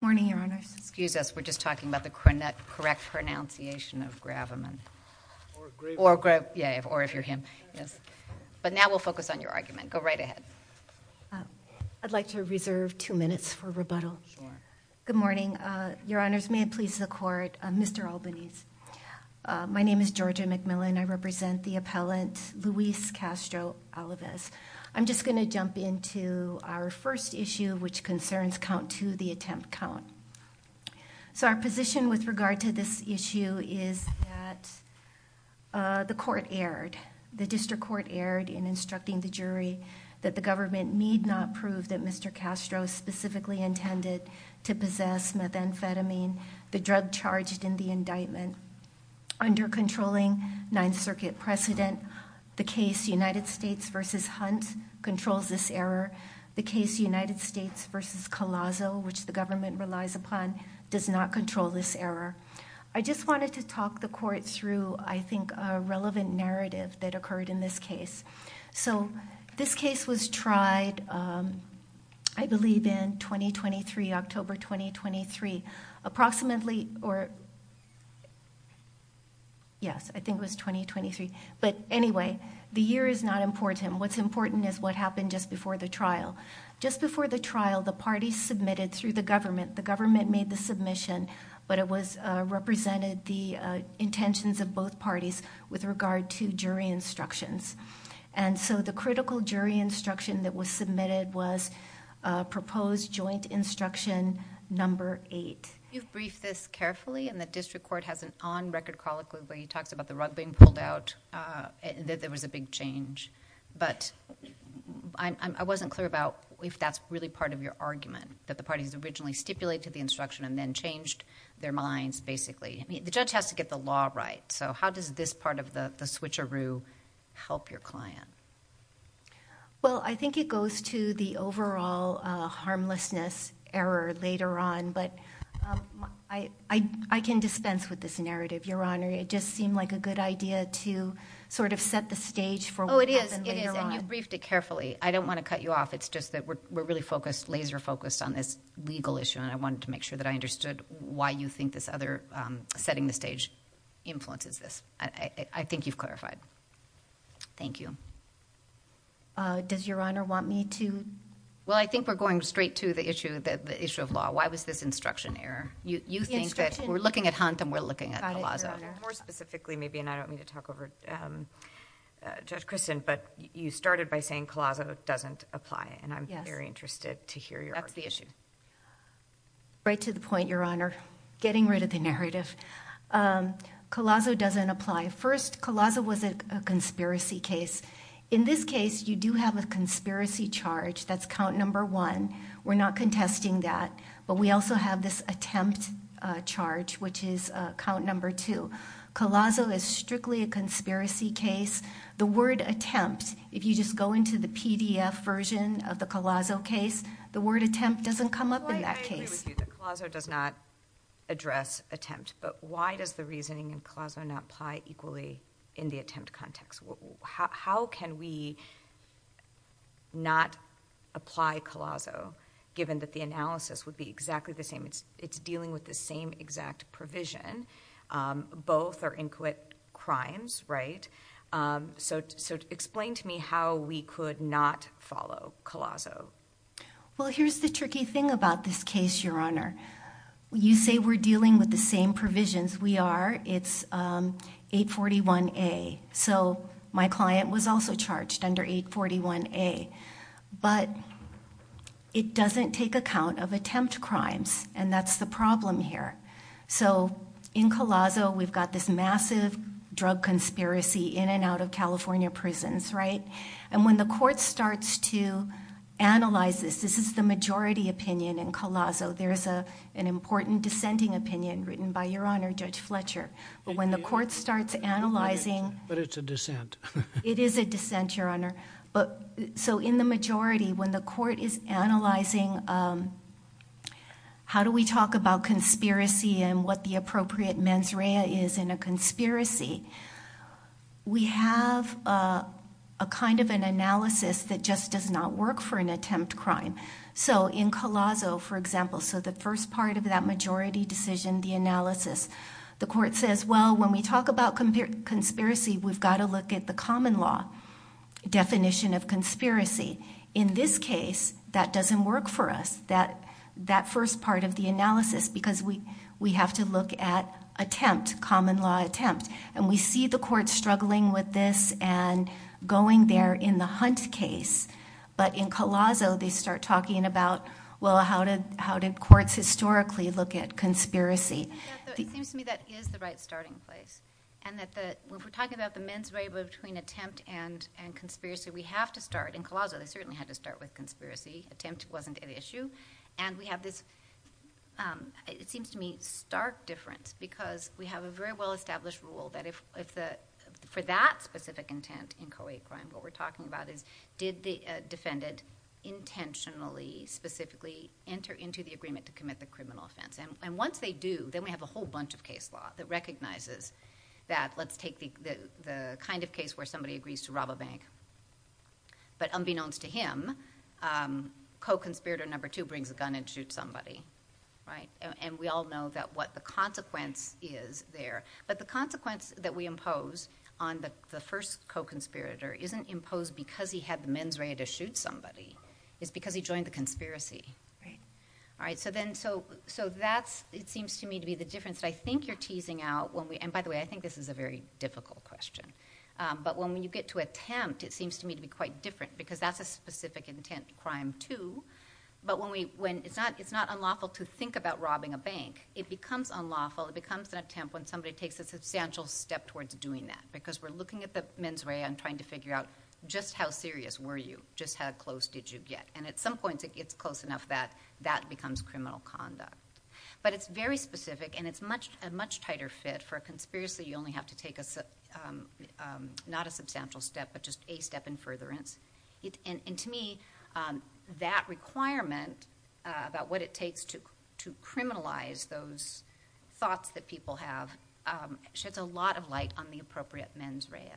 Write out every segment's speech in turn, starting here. Good morning, Your Honors. Excuse us. We're just talking about the correct pronunciation of Graveman. Or Graveman. Yeah, or if you're him. Yes. But now we'll focus on your argument. Go right ahead. I'd like to reserve two minutes for rebuttal. Sure. Good morning. Your Honors, may it please the Court, Mr. Albanese. My name is Georgia McMillan. I represent the appellant Luis Castro Alavez. I'm just going to jump into our first issue, which concerns count to the attempt count. So our position with regard to this issue is that the court erred, the district court erred in instructing the jury that the government need not prove that Mr. Castro specifically intended to possess methamphetamine, the drug charged in the indictment. Under controlling Ninth Circuit precedent, the case United States v. Hunt controls this error. The case United States v. Collazo, which the government relies upon, does not control this I just wanted to talk the court through, I think, a relevant narrative that occurred in this case. So this case was tried, I believe, in 2023, October 2023, approximately or... yes, I think it was 2023, but anyway, the year is not important. What's important is what happened just before the trial. Just before the trial, the parties submitted through the government. The government made the submission, but it represented the intentions of both parties with regard to jury instructions. The critical jury instruction that was submitted was proposed joint instruction number eight. You've briefed this carefully, and the district court has an on-record call, where he talks about the rug being pulled out, that there was a big change, but I wasn't clear about if that's really part of your argument, that the parties originally stipulated the instruction and then changed their minds, basically. The judge has to get the law right, so how does this part of the switcheroo help your client? Well, I think it goes to the overall harmlessness error later on, but I can dispense with this narrative, Your Honor. It just seemed like a good idea to sort of set the stage for what happened later on. It is, and you briefed it carefully. I don't want to cut you off. It's just that we're really laser-focused on this legal issue, and I wanted to make sure that I understood why you think this other setting the stage influences this. I think you've clarified. Thank you. Does Your Honor want me to? Well, I think we're going straight to the issue of law. Why was this instruction error? You think that we're looking at Hunt, and we're looking at Calazzo. Got it, Your Honor. More specifically, maybe, and I don't mean to talk over Judge Christin, but you started by saying Calazzo doesn't apply, and I'm very interested to hear your argument. That's the issue. Right to the point, Your Honor. Getting rid of the narrative. Calazzo doesn't apply. First, Calazzo was a conspiracy case. In this case, you do have a conspiracy charge. That's count number one. We're not contesting that, but we also have this attempt charge, which is count number two. Calazzo is strictly a conspiracy case. The word attempt, if you just go into the PDF version of the Calazzo case, the word attempt doesn't come up in that case. Well, why do I agree with you that Calazzo does not address attempt, but why does the reasoning in Calazzo not apply equally in the attempt context? How can we not apply Calazzo, given that the analysis would be exactly the same? It's dealing with the same exact provision. Both are inquit crimes, right? Explain to me how we could not follow Calazzo. Well, here's the tricky thing about this case, Your Honor. You say we're dealing with the same provisions. We are. It's 841A. My client was also charged under 841A, but it doesn't take account of attempt crimes, and that's the problem here. In Calazzo, we've got this massive drug conspiracy in and out of California prisons, right? When the court starts to analyze this, this is the majority opinion in Calazzo. There's an important dissenting opinion written by Your Honor, Judge Fletcher. When the court starts analyzing... But it's a dissent. It is a dissent, Your Honor. In the majority, when the court is analyzing how do we talk about conspiracy and what the appropriate mens rea is in a conspiracy, we have a kind of an analysis that just does not work for an attempt crime. So in Calazzo, for example, so the first part of that majority decision, the analysis. The court says, well, when we talk about conspiracy, we've got to look at the common law definition of conspiracy. In this case, that doesn't work for us, that first part of the analysis, because we have to look at attempt, common law attempt. We see the court struggling with this and going there in the Hunt case, but in Calazzo, they start talking about, well, how did courts historically look at conspiracy? It seems to me that is the right starting place. When we're talking about the mens rea between attempt and conspiracy, we have to start. In Calazzo, they certainly had to start with conspiracy. Attempt wasn't an issue. We have this, it seems to me, stark difference, because we have a very well-established rule that for that specific intent in co-aid crime, what we're talking about is, did the defendant intentionally, specifically, enter into the agreement to commit the criminal offense? Once they do, then we have a whole bunch of case law that recognizes that, let's take the kind of case where somebody agrees to rob a bank, but unbeknownst to him, co-conspirator number two brings a gun and shoots somebody. We all know what the consequence is there. The consequence that we impose on the first co-conspirator isn't imposed because he had the mens rea to shoot somebody, it's because he joined the conspiracy. It seems to me to be the difference that I think you're teasing out, and by the way, I think this is a very difficult question, but when you get to attempt, it seems to me to be quite different, because that's a specific intent crime, too, but it's not unlawful to think about robbing a bank. It becomes unlawful, it becomes an attempt when somebody takes a substantial step towards doing that, because we're looking at the mens rea and trying to figure out, just how serious were you? Just how close did you get? At some points, it gets close enough that that becomes criminal conduct, but it's very specific and it's a much tighter fit. For a conspiracy, you only have to take not a substantial step, but just a step in furtherance. To me, that requirement about what it takes to criminalize those thoughts that people have sheds a lot of light on the appropriate mens rea.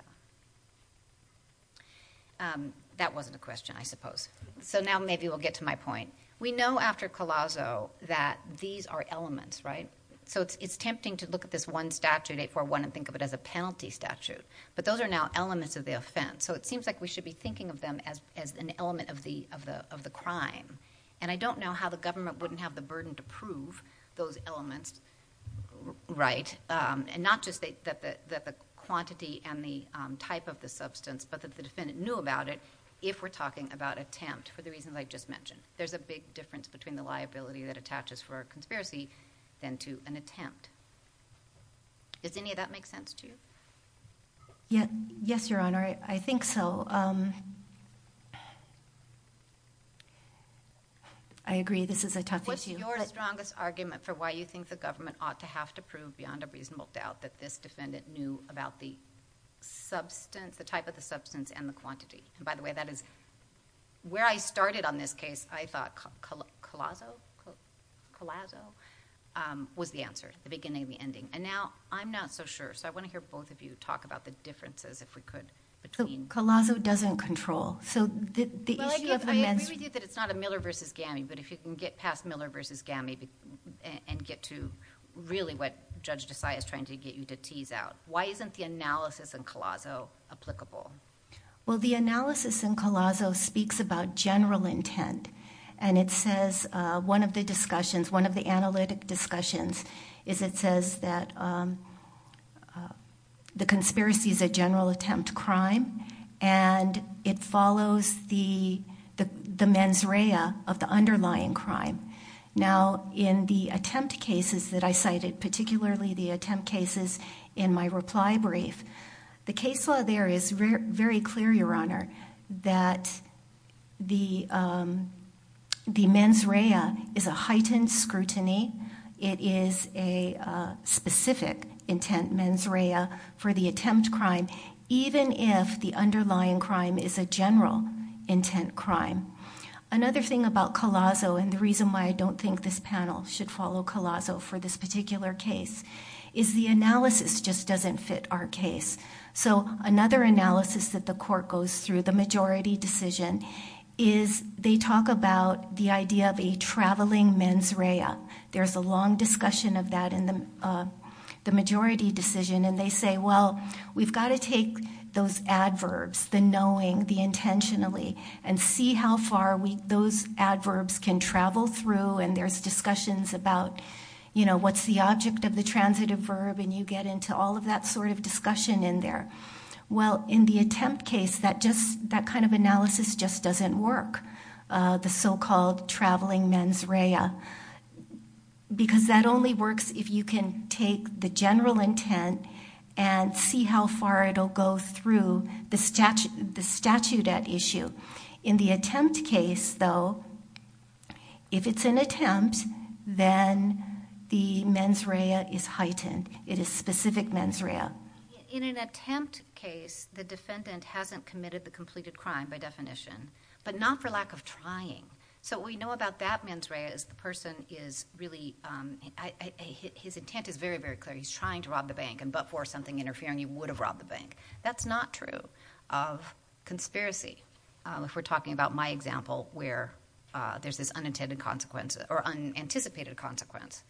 That wasn't a question, I suppose. Now maybe we'll get to my point. We know after Collazo that these are elements, right? It's tempting to look at this one statute, 841, and think of it as a penalty statute, but those are now elements of the offense. It seems like we should be thinking of them as an element of the crime. I don't know how the government wouldn't have the burden to prove those elements, and not just that the quantity and the type of the substance, but that the defendant knew about it if we're talking about attempt, for the reasons I just mentioned. There's a big difference between the liability that attaches for a conspiracy than to an attempt. Does any of that make sense to you? Yes, Your Honor. I think so. I agree. This is a tough issue. What's your strongest argument for why you think the government ought to have to prove beyond a reasonable doubt that this defendant knew about the substance, the type of the substance, and the quantity? By the way, that is... Where I started on this case, I thought Collazo was the answer. The beginning and the ending. Now, I'm not so sure. I want to hear both of you talk about the differences, if we could, between... Collazo doesn't control. The issue of amends... I agree with you that it's not a Miller v. Gammy, but if you can get past Miller v. Gammy and get to really what Judge Desai is trying to get you to tease out. Why isn't the analysis in Collazo applicable? The analysis in Collazo speaks about general intent. It says one of the discussions, one of the analytic discussions, is it says that the conspiracy is a general attempt crime, and it follows the mens rea of the underlying crime. Now, in the attempt cases that I cited, particularly the attempt cases in my reply brief, the case law there is very clear, Your Honor, that the mens rea is a heightened scrutiny. It is a specific intent mens rea for the attempt crime, even if the underlying crime is a general intent crime. Another thing about Collazo, and the reason why I don't think this panel should follow Collazo for this particular case, is the analysis just doesn't fit our case. Another analysis that the court goes through, the majority decision, is they talk about the idea of a traveling mens rea. There's a long discussion of that in the majority decision, and they say, Well, we've got to take those adverbs, the knowing, the intentionally, and see how far those adverbs can travel through. There's discussions about what's the object of the transitive verb, and you get into all that sort of discussion in there. Well, in the attempt case, that kind of analysis just doesn't work, the so-called traveling mens rea, because that only works if you can take the general intent and see how far it'll go through the statute at issue. In the attempt case, though, if it's an attempt, then the mens rea is heightened. It is specific mens rea. In an attempt case, the defendant hasn't committed the completed crime, by definition, but not for lack of trying. We know about that mens rea, is the person is really... His intent is very, very clear. He's trying to rob the bank, and before something interfering, he would have robbed the bank. That's not true of conspiracy, if we're talking about my example, where there's this unintended consequence, or unanticipated consequence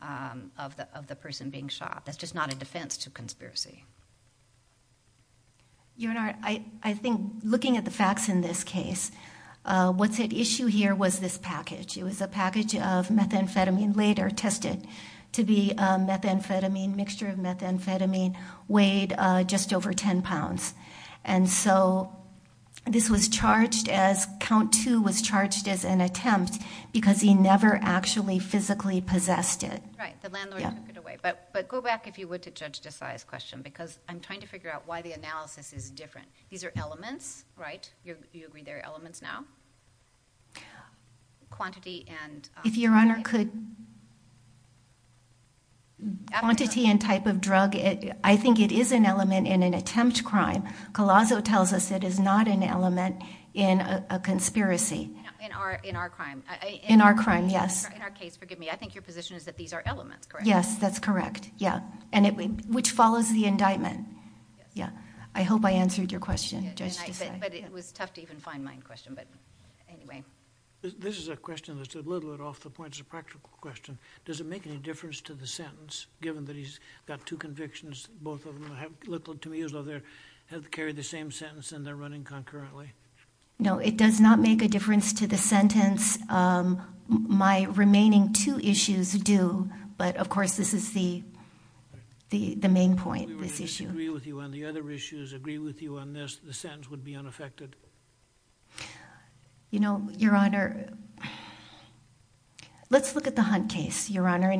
of the person being shot. That's just not a defense to conspiracy. Your Honor, I think looking at the facts in this case, what's at issue here was this package. It was a package of methamphetamine later tested to be a methamphetamine, mixture of methamphetamine, weighed just over 10 pounds. This was charged as... Count two was charged as an attempt, because he never actually physically possessed it. Right. The landlord took it away. Go back, if you would, to Judge Desai's question, because I'm trying to figure out why the analysis is different. These are elements, right? Do you agree they're elements now? Quantity and... Collazo tells us it is not an element in a conspiracy. In our crime. In our crime, yes. In our case, forgive me. I think your position is that these are elements, correct? Yes, that's correct, yeah. Which follows the indictment. Yes. Yeah. I hope I answered your question, Judge Desai. But it was tough to even find my question, but anyway. This is a question that's a little bit off the point. It's a practical question. Does it make any difference to the sentence, given that he's got two convictions, both of them? No, it does not make a difference to the sentence. My remaining two issues do, but of course, this is the main point, this issue. We would disagree with you on the other issues, agree with you on this. The sentence would be unaffected. You know, Your Honor, let's look at the Hunt case, Your Honor.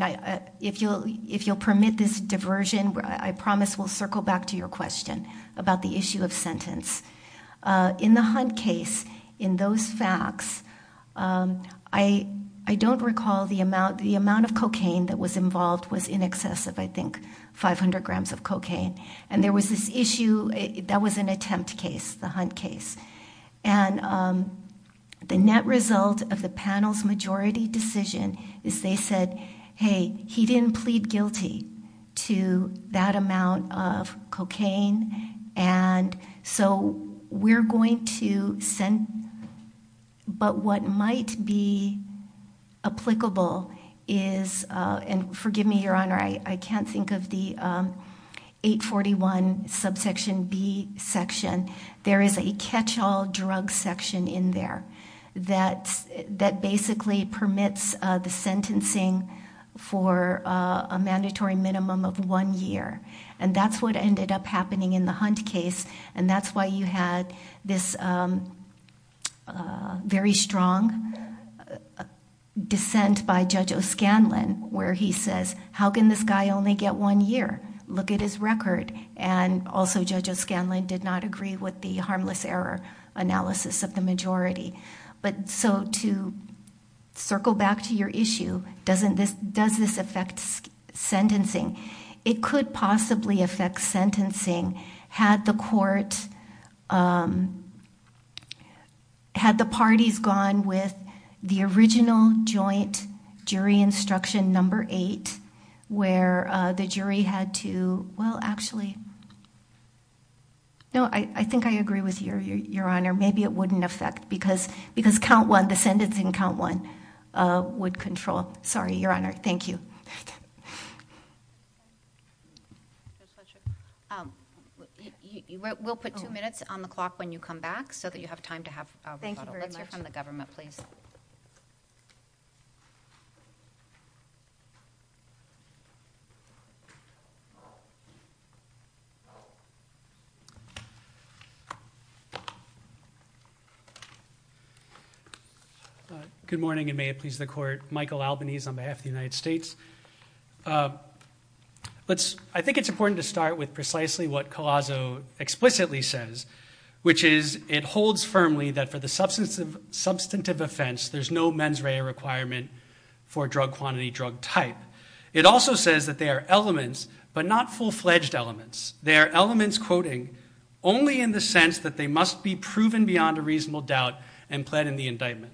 If you'll permit this diversion, I promise we'll circle back to your question about the issue of sentence. In the Hunt case, in those facts, I don't recall the amount of cocaine that was involved was in excess of, I think, 500 grams of cocaine. And there was this issue, that was an attempt case, the Hunt case. And the net result of the panel's majority decision is they said, hey, he didn't plead guilty to that amount of cocaine, and so we're going to send... but what might be applicable is... and forgive me, Your Honor, I can't think of the 841 subsection B section. There is a catch-all drug section in there that basically permits the sentencing for a mandatory minimum of one year. And that's what ended up happening in the Hunt case, and that's why you had this very strong dissent by Judge O'Scanlan, where he says, how can this guy only get one year? Look at his record. And also, Judge O'Scanlan did not agree with the harmless error analysis of the majority. But so to circle back to your issue, does this affect sentencing? It could possibly affect sentencing had the court... had the parties gone with the original joint jury instruction number eight, where the jury had to... well, actually... no, I think I agree with you, Your Honor. Maybe it wouldn't affect, because count one, the sentencing count one would control... sorry, Your Honor. Thank you. We'll put two minutes on the clock when you come back, so that you have time to have... Thank you very much. We'll take a question here from the government, please. Good morning, and may it please the Court. Michael Albanese on behalf of the United States. I think it's important to start with precisely what Collazo explicitly says, which is it holds firmly that for the substantive offense, there's no mens rea requirement for drug quantity, drug type. It also says that they are elements, but not full-fledged elements. They are elements, quoting, only in the sense that they must be proven beyond a reasonable doubt and pled in the indictment.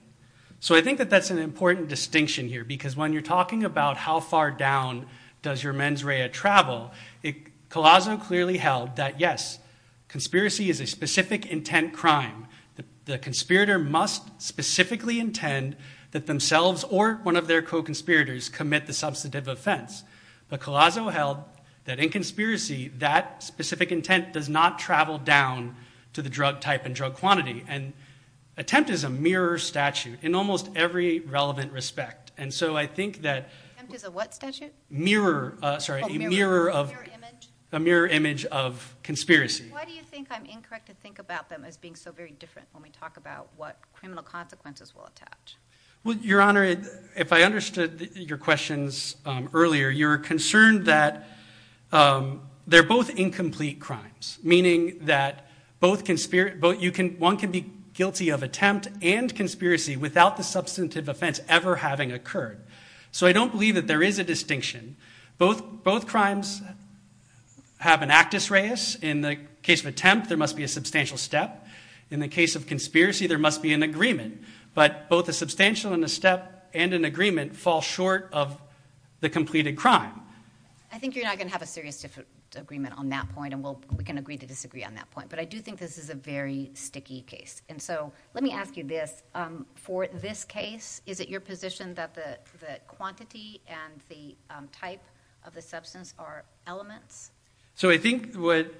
So I think that that's an important distinction here, because when you're talking about how far down does your mens rea travel, Collazo clearly held that, yes, conspiracy is a specific intent crime. The conspirator must specifically intend that themselves or one of their co-conspirators commit the substantive offense, but Collazo held that in conspiracy, that specific intent does not travel down to the drug type and drug quantity, and attempt is a mirror statute in almost every relevant respect. And so I think that... Attempt is a what statute? Mirror. Sorry. A mirror of... A mirror image? A mirror image of conspiracy. Why do you think I'm incorrect to think about them as being so very different when we talk about what criminal consequences will attach? Well, Your Honor, if I understood your questions earlier, you're concerned that they're both incomplete crimes, meaning that one can be guilty of attempt and conspiracy without the substantive offense ever having occurred. So I don't believe that there is a distinction. Both crimes have an actus reus. In the case of attempt, there must be a substantial step. In the case of conspiracy, there must be an agreement. But both a substantial and a step and an agreement fall short of the completed crime. I think you're not going to have a serious agreement on that point, and we can agree to disagree on that point. But I do think this is a very sticky case. And so let me ask you this. For this case, is it your position that the quantity and the type of the substance are elements? So I think what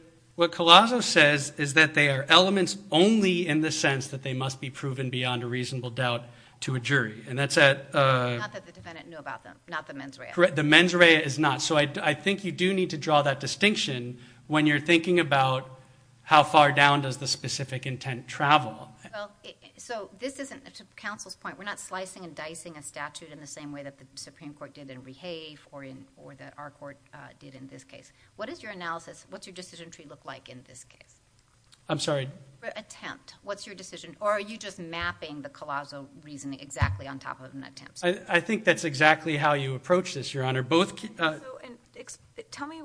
Colasso says is that they are elements only in the sense that they must be proven beyond a reasonable doubt to a jury. And that's at... Not that the defendant knew about them, not the mens rea. Correct. The mens rea is not. So I think you do need to draw that distinction when you're thinking about how far down does the specific intent travel. Well, so this isn't... to counsel's point, we're not slicing and dicing a statute in the same way that the Supreme Court did in Rehave or that our court did in this case. What is your analysis? What's your decision tree look like in this case? I'm sorry? For attempt, what's your decision? Or are you just mapping the Colasso reasoning exactly on top of an attempt? I think that's exactly how you approach this, Your Honor. Both... So tell me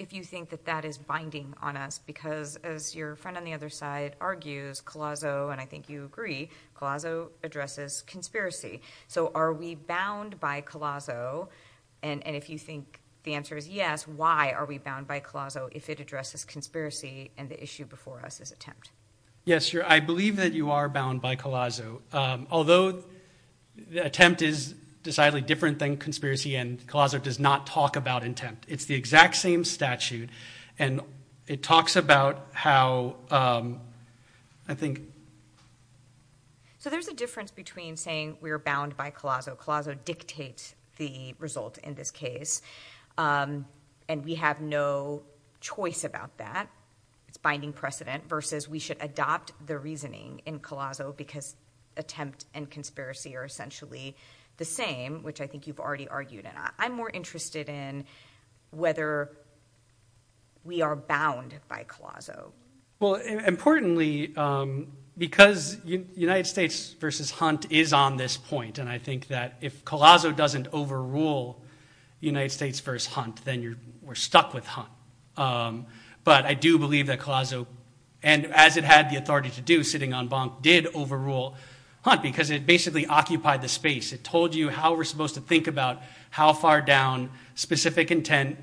if you think that that is binding on us, because as your friend on the other side argues, Colasso, and I think you agree, Colasso addresses conspiracy. So are we bound by Colasso? And if you think the answer is yes, why are we bound by Colasso if it addresses conspiracy and the issue before us is attempt? Yes, Your... I believe that you are bound by Colasso, although the attempt is decidedly different than conspiracy and Colasso does not talk about intent. It's the exact same statute and it talks about how... I think... So there's a difference between saying we're bound by Colasso. Colasso dictates the result in this case and we have no choice about that. It's binding precedent versus we should adopt the reasoning in Colasso because attempt and conspiracy are essentially the same, which I think you've already argued. I'm more interested in whether we are bound by Colasso. Well, importantly, because United States versus Hunt is on this point, and I think that if Colasso doesn't overrule United States versus Hunt, then we're stuck with Hunt. But I do believe that Colasso, and as it had the authority to do sitting on Bonk, did overrule Hunt because it basically occupied the space. It told you how we're supposed to think about how far down specific intent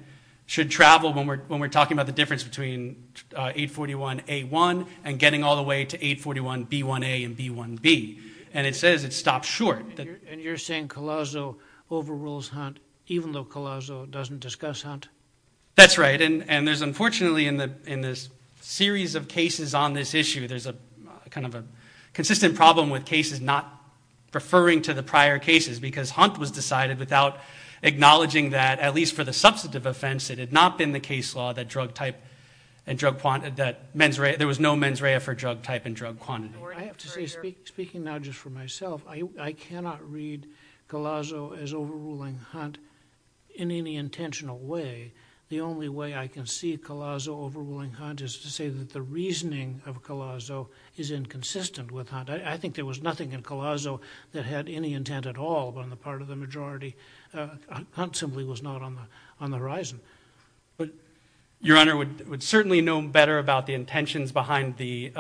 should travel when we're talking about the difference between 841A1 and getting all the way to 841B1A and B1B, and it says it's stopped short. And you're saying Colasso overrules Hunt, even though Colasso doesn't discuss Hunt? That's right. And there's unfortunately in this series of cases on this issue, there's a kind of a consistent problem with cases not referring to the prior cases, because Hunt was decided without acknowledging that, at least for the substantive offense, it had not been the case law that there was no mens rea for drug type and drug quantity. I have to say, speaking now just for myself, I cannot read Colasso as overruling Hunt in any intentional way. The only way I can see Colasso overruling Hunt is to say that the reasoning of Colasso is inconsistent with Hunt. I think there was nothing in Colasso that had any intent at all on the part of the majority. Hunt simply was not on the horizon. But Your Honor would certainly know better about the intentions behind the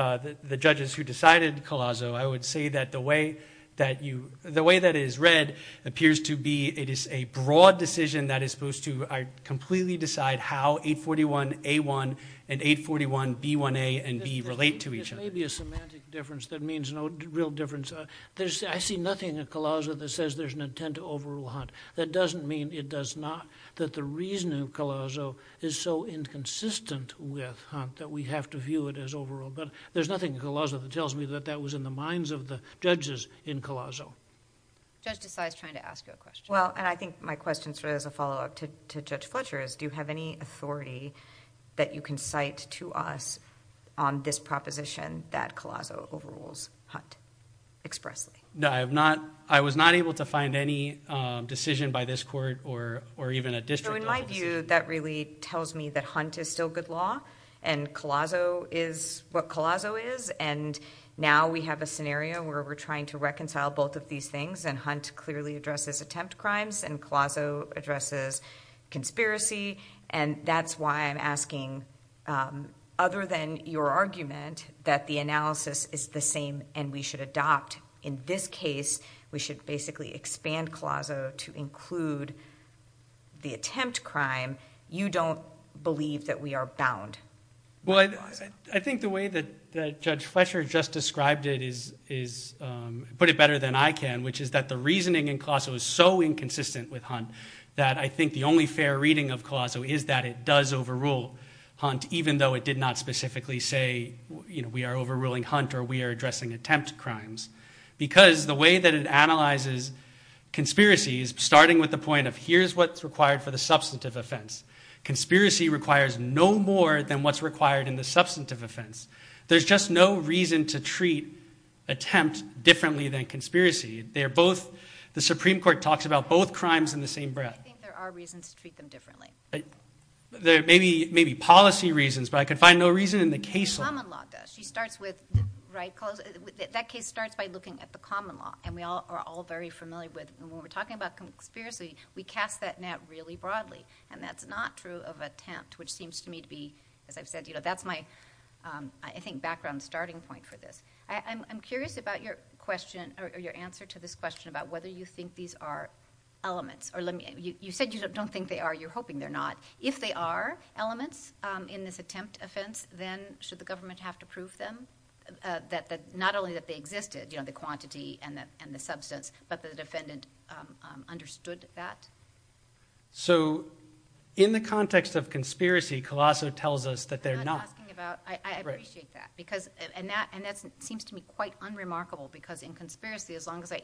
judges who decided Colasso. I would say that the way that you the way that is read appears to be it is a broad decision that is supposed to completely decide how 841A1 and 841B1A and B relate to each other. It may be a semantic difference that means no real difference. I see nothing in Colasso that says there's an intent to overrule Hunt. That doesn't mean it does not that the reasoning of Colasso is so inconsistent with Hunt that we have to view it as overruled. There's nothing in Colasso that tells me that that was in the minds of the judges in Colasso. Judge DeSalle is trying to ask you a question. I think my question is a follow-up to Judge Fletcher's. Do you have any authority that you can cite to us on this proposition that Colasso overrules Hunt expressly? No. I have not. I was not able to find any decision by this court or or even a district. In my view that really tells me that Hunt is still good law and Colasso is what Colasso is and now we have a scenario where we're trying to reconcile both of these things and attempt crimes and Colasso addresses conspiracy and that's why I'm asking other than your argument that the analysis is the same and we should adopt in this case we should basically expand Colasso to include the attempt crime. You don't believe that we are bound. I think the way that Judge Fletcher just described it is put it better than I can which is that the reasoning in Colasso is so inconsistent with Hunt that I think the only fair reading of Colasso is that it does overrule Hunt even though it did not specifically say we are overruling Hunt or we are addressing attempt crimes because the way that it analyzes conspiracy is starting with the point of here's what's required for the substantive offense. Conspiracy requires no more than what's required in the substantive offense. There's just no reason to treat attempt differently than conspiracy. They are both, the Supreme Court talks about both crimes in the same breath. I think there are reasons to treat them differently. Maybe policy reasons but I can find no reason in the case law. The common law does. She starts with, right Colasso, that case starts by looking at the common law and we all are all very familiar with and when we're talking about conspiracy we cast that net really broadly and that's not true of attempt which seems to me to be, as I've said, that's my I think background starting point for this. I'm curious about your question or your answer to this question about whether you think these are elements or let me, you said you don't think they are, you're hoping they're not. If they are elements in this attempt offense then should the government have to prove them? Not only that they existed, the quantity and the substance, but the defendant understood that? In the context of conspiracy Colasso tells us that they're not. I appreciate that and that seems to me quite unremarkable because in conspiracy as long as I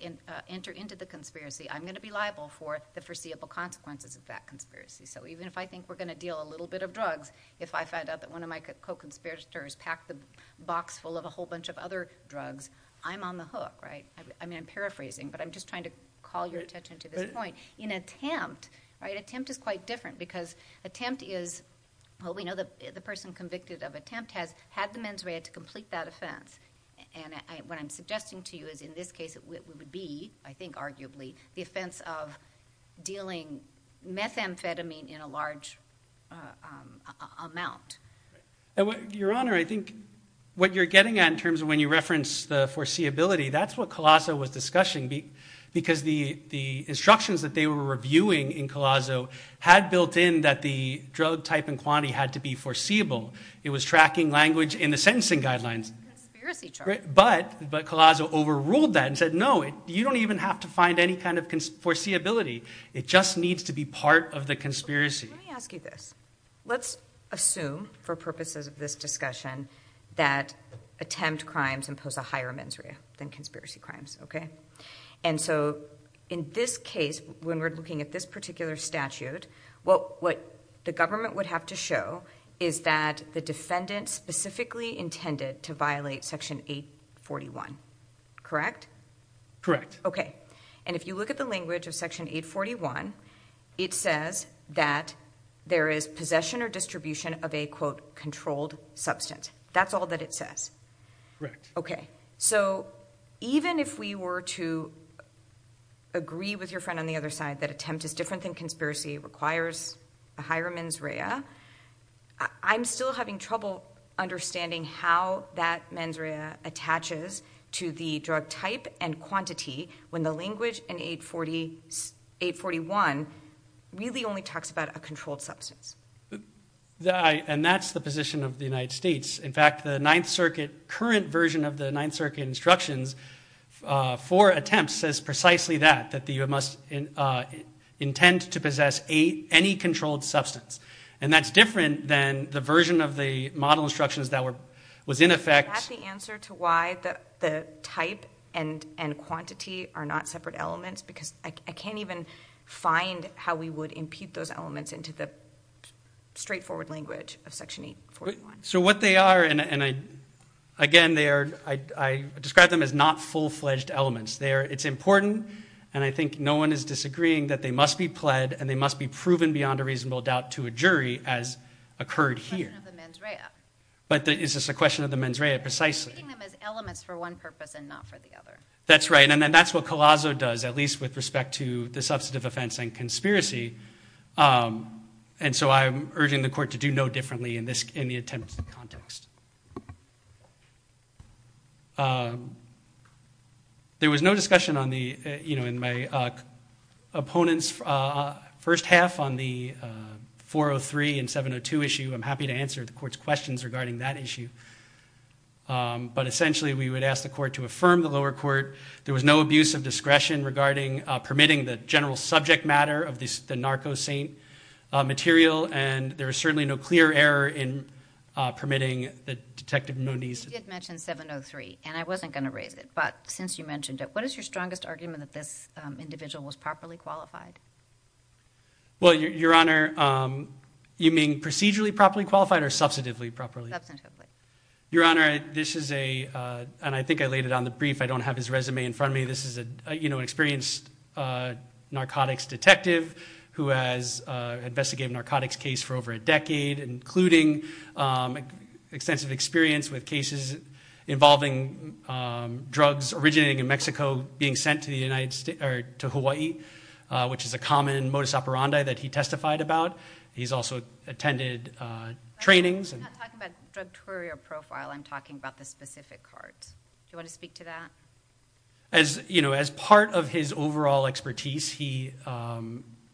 enter into the conspiracy I'm going to be liable for the foreseeable consequences of that conspiracy. Even if I think we're going to deal a little bit of drugs, if I find out that one of my co-conspirators packed the box full of a whole bunch of other drugs, I'm on the hook, right? I'm paraphrasing but I'm just trying to call your attention to this point. In attempt, attempt is quite different because attempt is, well, we know the person convicted of attempt has had the mens rea to complete that offense and what I'm suggesting to you is in this case it would be, I think arguably, the offense of dealing methamphetamine in a large amount. Your Honor, I think what you're getting at in terms of when you reference the foreseeability, that's what Colasso was discussing because the instructions that they were reviewing in Colasso had built in that the drug type and quantity had to be foreseeable. It was tracking language in the sentencing guidelines. But Colasso overruled that and said, no, you don't even have to find any kind of foreseeability. It just needs to be part of the conspiracy. Let me ask you this. Let's assume for purposes of this discussion that attempt crimes impose a higher mens rea than conspiracy crimes, okay? And so in this case, when we're looking at this particular statute, what the government would have to show is that the defendant specifically intended to violate section 841, correct? Correct. Okay. And if you look at the language of section 841, it says that there is possession or distribution of a, quote, controlled substance. That's all that it says. Correct. Okay. So even if we were to agree with your friend on the other side that attempt is different than conspiracy, requires a higher mens rea, I'm still having trouble understanding how that mens rea attaches to the drug type and quantity when the language in 841 really only talks about a controlled substance. And that's the position of the United States. In fact, the 9th Circuit, current version of the 9th Circuit instructions for attempts says precisely that, that the U.S. must intend to possess any controlled substance. And that's different than the version of the model instructions that was in effect- Is that the answer to why the type and quantity are not separate elements? Because I can't even find how we would impute those elements into the straightforward language of section 841. So what they are, and again, I describe them as not full-fledged elements. It's important, and I think no one is disagreeing, that they must be pled and they must be proven beyond a reasonable doubt to a jury as occurred here. It's a question of the mens rea. But is this a question of the mens rea, precisely? They're treating them as elements for one purpose and not for the other. That's right. And that's what Collazo does, at least with respect to the substantive offense and conspiracy. And so I'm urging the court to do no differently in the attempted context. There was no discussion in my opponent's first half on the 403 and 702 issue. I'm happy to answer the court's questions regarding that issue. But essentially, we would ask the court to affirm the lower court. There was no abuse of discretion regarding permitting the general subject matter of the narco saint material, and there was certainly no clear error in permitting the detective Moniz. You did mention 703, and I wasn't going to raise it. But since you mentioned it, what is your strongest argument that this individual was properly qualified? Well, Your Honor, you mean procedurally properly qualified or substantively properly? Substantively. Your Honor, this is a, and I think I laid it on the brief, I don't have his resume in front of me. This is an experienced narcotics detective who has investigated narcotics case for over a decade, including extensive experience with cases involving drugs originating in Mexico being sent to Hawaii, which is a common modus operandi that he testified about. He's also attended trainings. I'm not talking about drug query or profile, I'm talking about the specific cards. Do you want to speak to that? As part of his overall expertise, he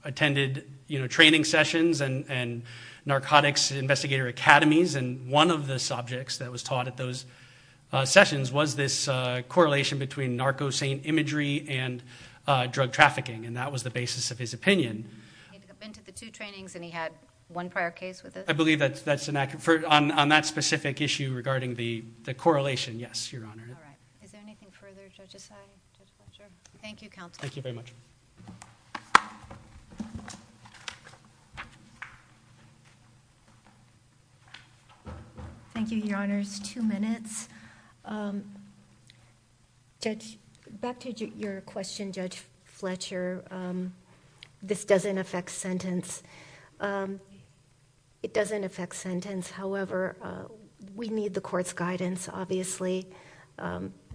attended training sessions and narcotics investigator academies, and one of the subjects that was taught at those sessions was this correlation between narco saint imagery and drug trafficking, and that was the basis of his opinion. He'd been to the two trainings, and he had one prior case with it? I believe that's an accurate, on that specific issue regarding the correlation, yes, Your Honor. All right. Is there anything further, Judge Asai, Judge Fletcher? Thank you, counsel. Thank you very much. Thank you, Your Honors. Two minutes. Judge, back to your question, Judge Fletcher, this doesn't affect sentence. It doesn't affect sentence, however, we need the court's guidance, obviously.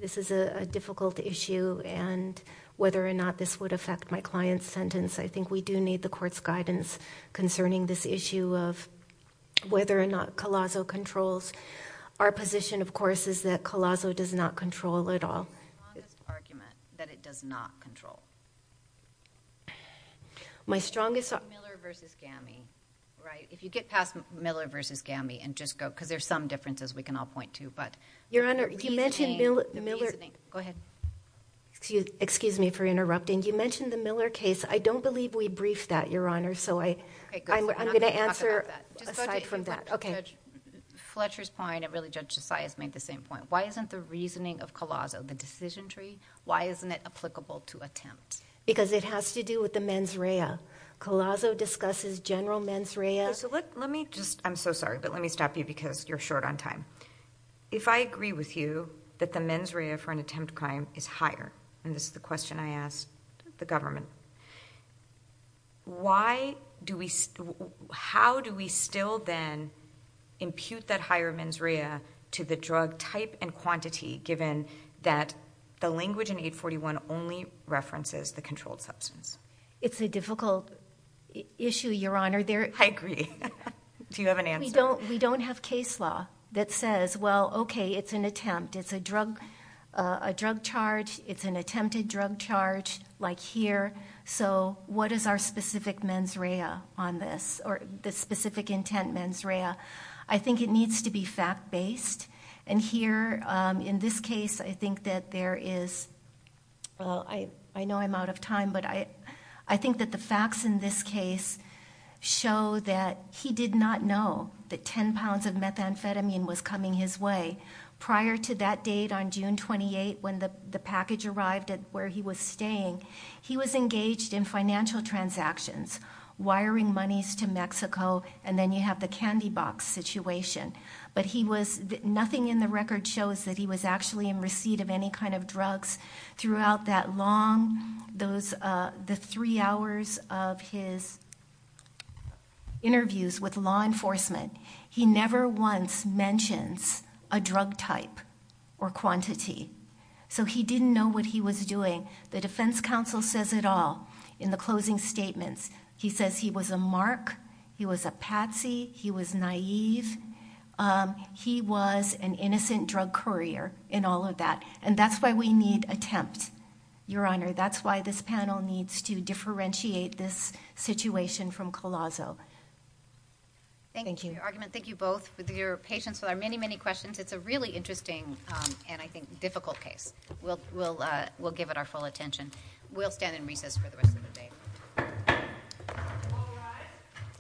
This is a difficult issue, and whether or not this would affect my client's sentence, I think we do need the court's guidance concerning this issue of whether or not Colasso controls. Our position, of course, is that Colasso does not control at all. What's your strongest argument that it does not control? Miller v. Gammie, right? If you get past Miller v. Gammie and just go, because there's some differences we can all point to, but... Your Honor, you mentioned Miller... The reasoning. Go ahead. Excuse me for interrupting. You mentioned the Miller case. I don't believe we briefed that, Your Honor, so I... Okay, good. I'm not going to talk about that. I'm going to answer aside from that. Just go to your question, Judge. Fletcher's point, and really Judge Asai has made the same point. Why isn't the reasoning of Colasso, the decision tree, why isn't it applicable to attempt? Because it has to do with the mens rea. Colasso discusses general mens rea. Let me just... I'm so sorry, but let me stop you because you're short on time. If I agree with you that the mens rea for an attempt crime is higher, and this is the question I asked the government, how do we still then impute that higher mens rea to the drug type and quantity, given that the language in 841 only references the controlled substance? It's a difficult issue, Your Honor. I agree. Do you have an answer? We don't have case law that says, well, okay, it's an attempt. It's a drug charge. It's an attempted drug charge, like here. What is our specific mens rea on this, or the specific intent mens rea? I think it needs to be fact-based. And here, in this case, I think that there is... I know I'm out of time, but I think that the facts in this case show that he did not know that 10 pounds of methamphetamine was coming his way. Prior to that date on June 28, when the package arrived at where he was staying, he was engaged in financial transactions, wiring monies to Mexico, and then you have the candy box situation. But he was... nothing in the record shows that he was actually in receipt of any kind of drugs throughout that long... the three hours of his interviews with law enforcement. He never once mentions a drug type or quantity, so he didn't know what he was doing. The defense counsel says it all in the closing statements. He says he was a mark, he was a patsy, he was naive. He was an innocent drug courier in all of that, and that's why we need attempt, Your Honor. That's why this panel needs to differentiate this situation from Colosso. Thank you. Thank you. Thank you both for your patience with our many, many questions. It's a really interesting and, I think, difficult case. We'll give it our full attention. We'll stand in recess for the rest of the day.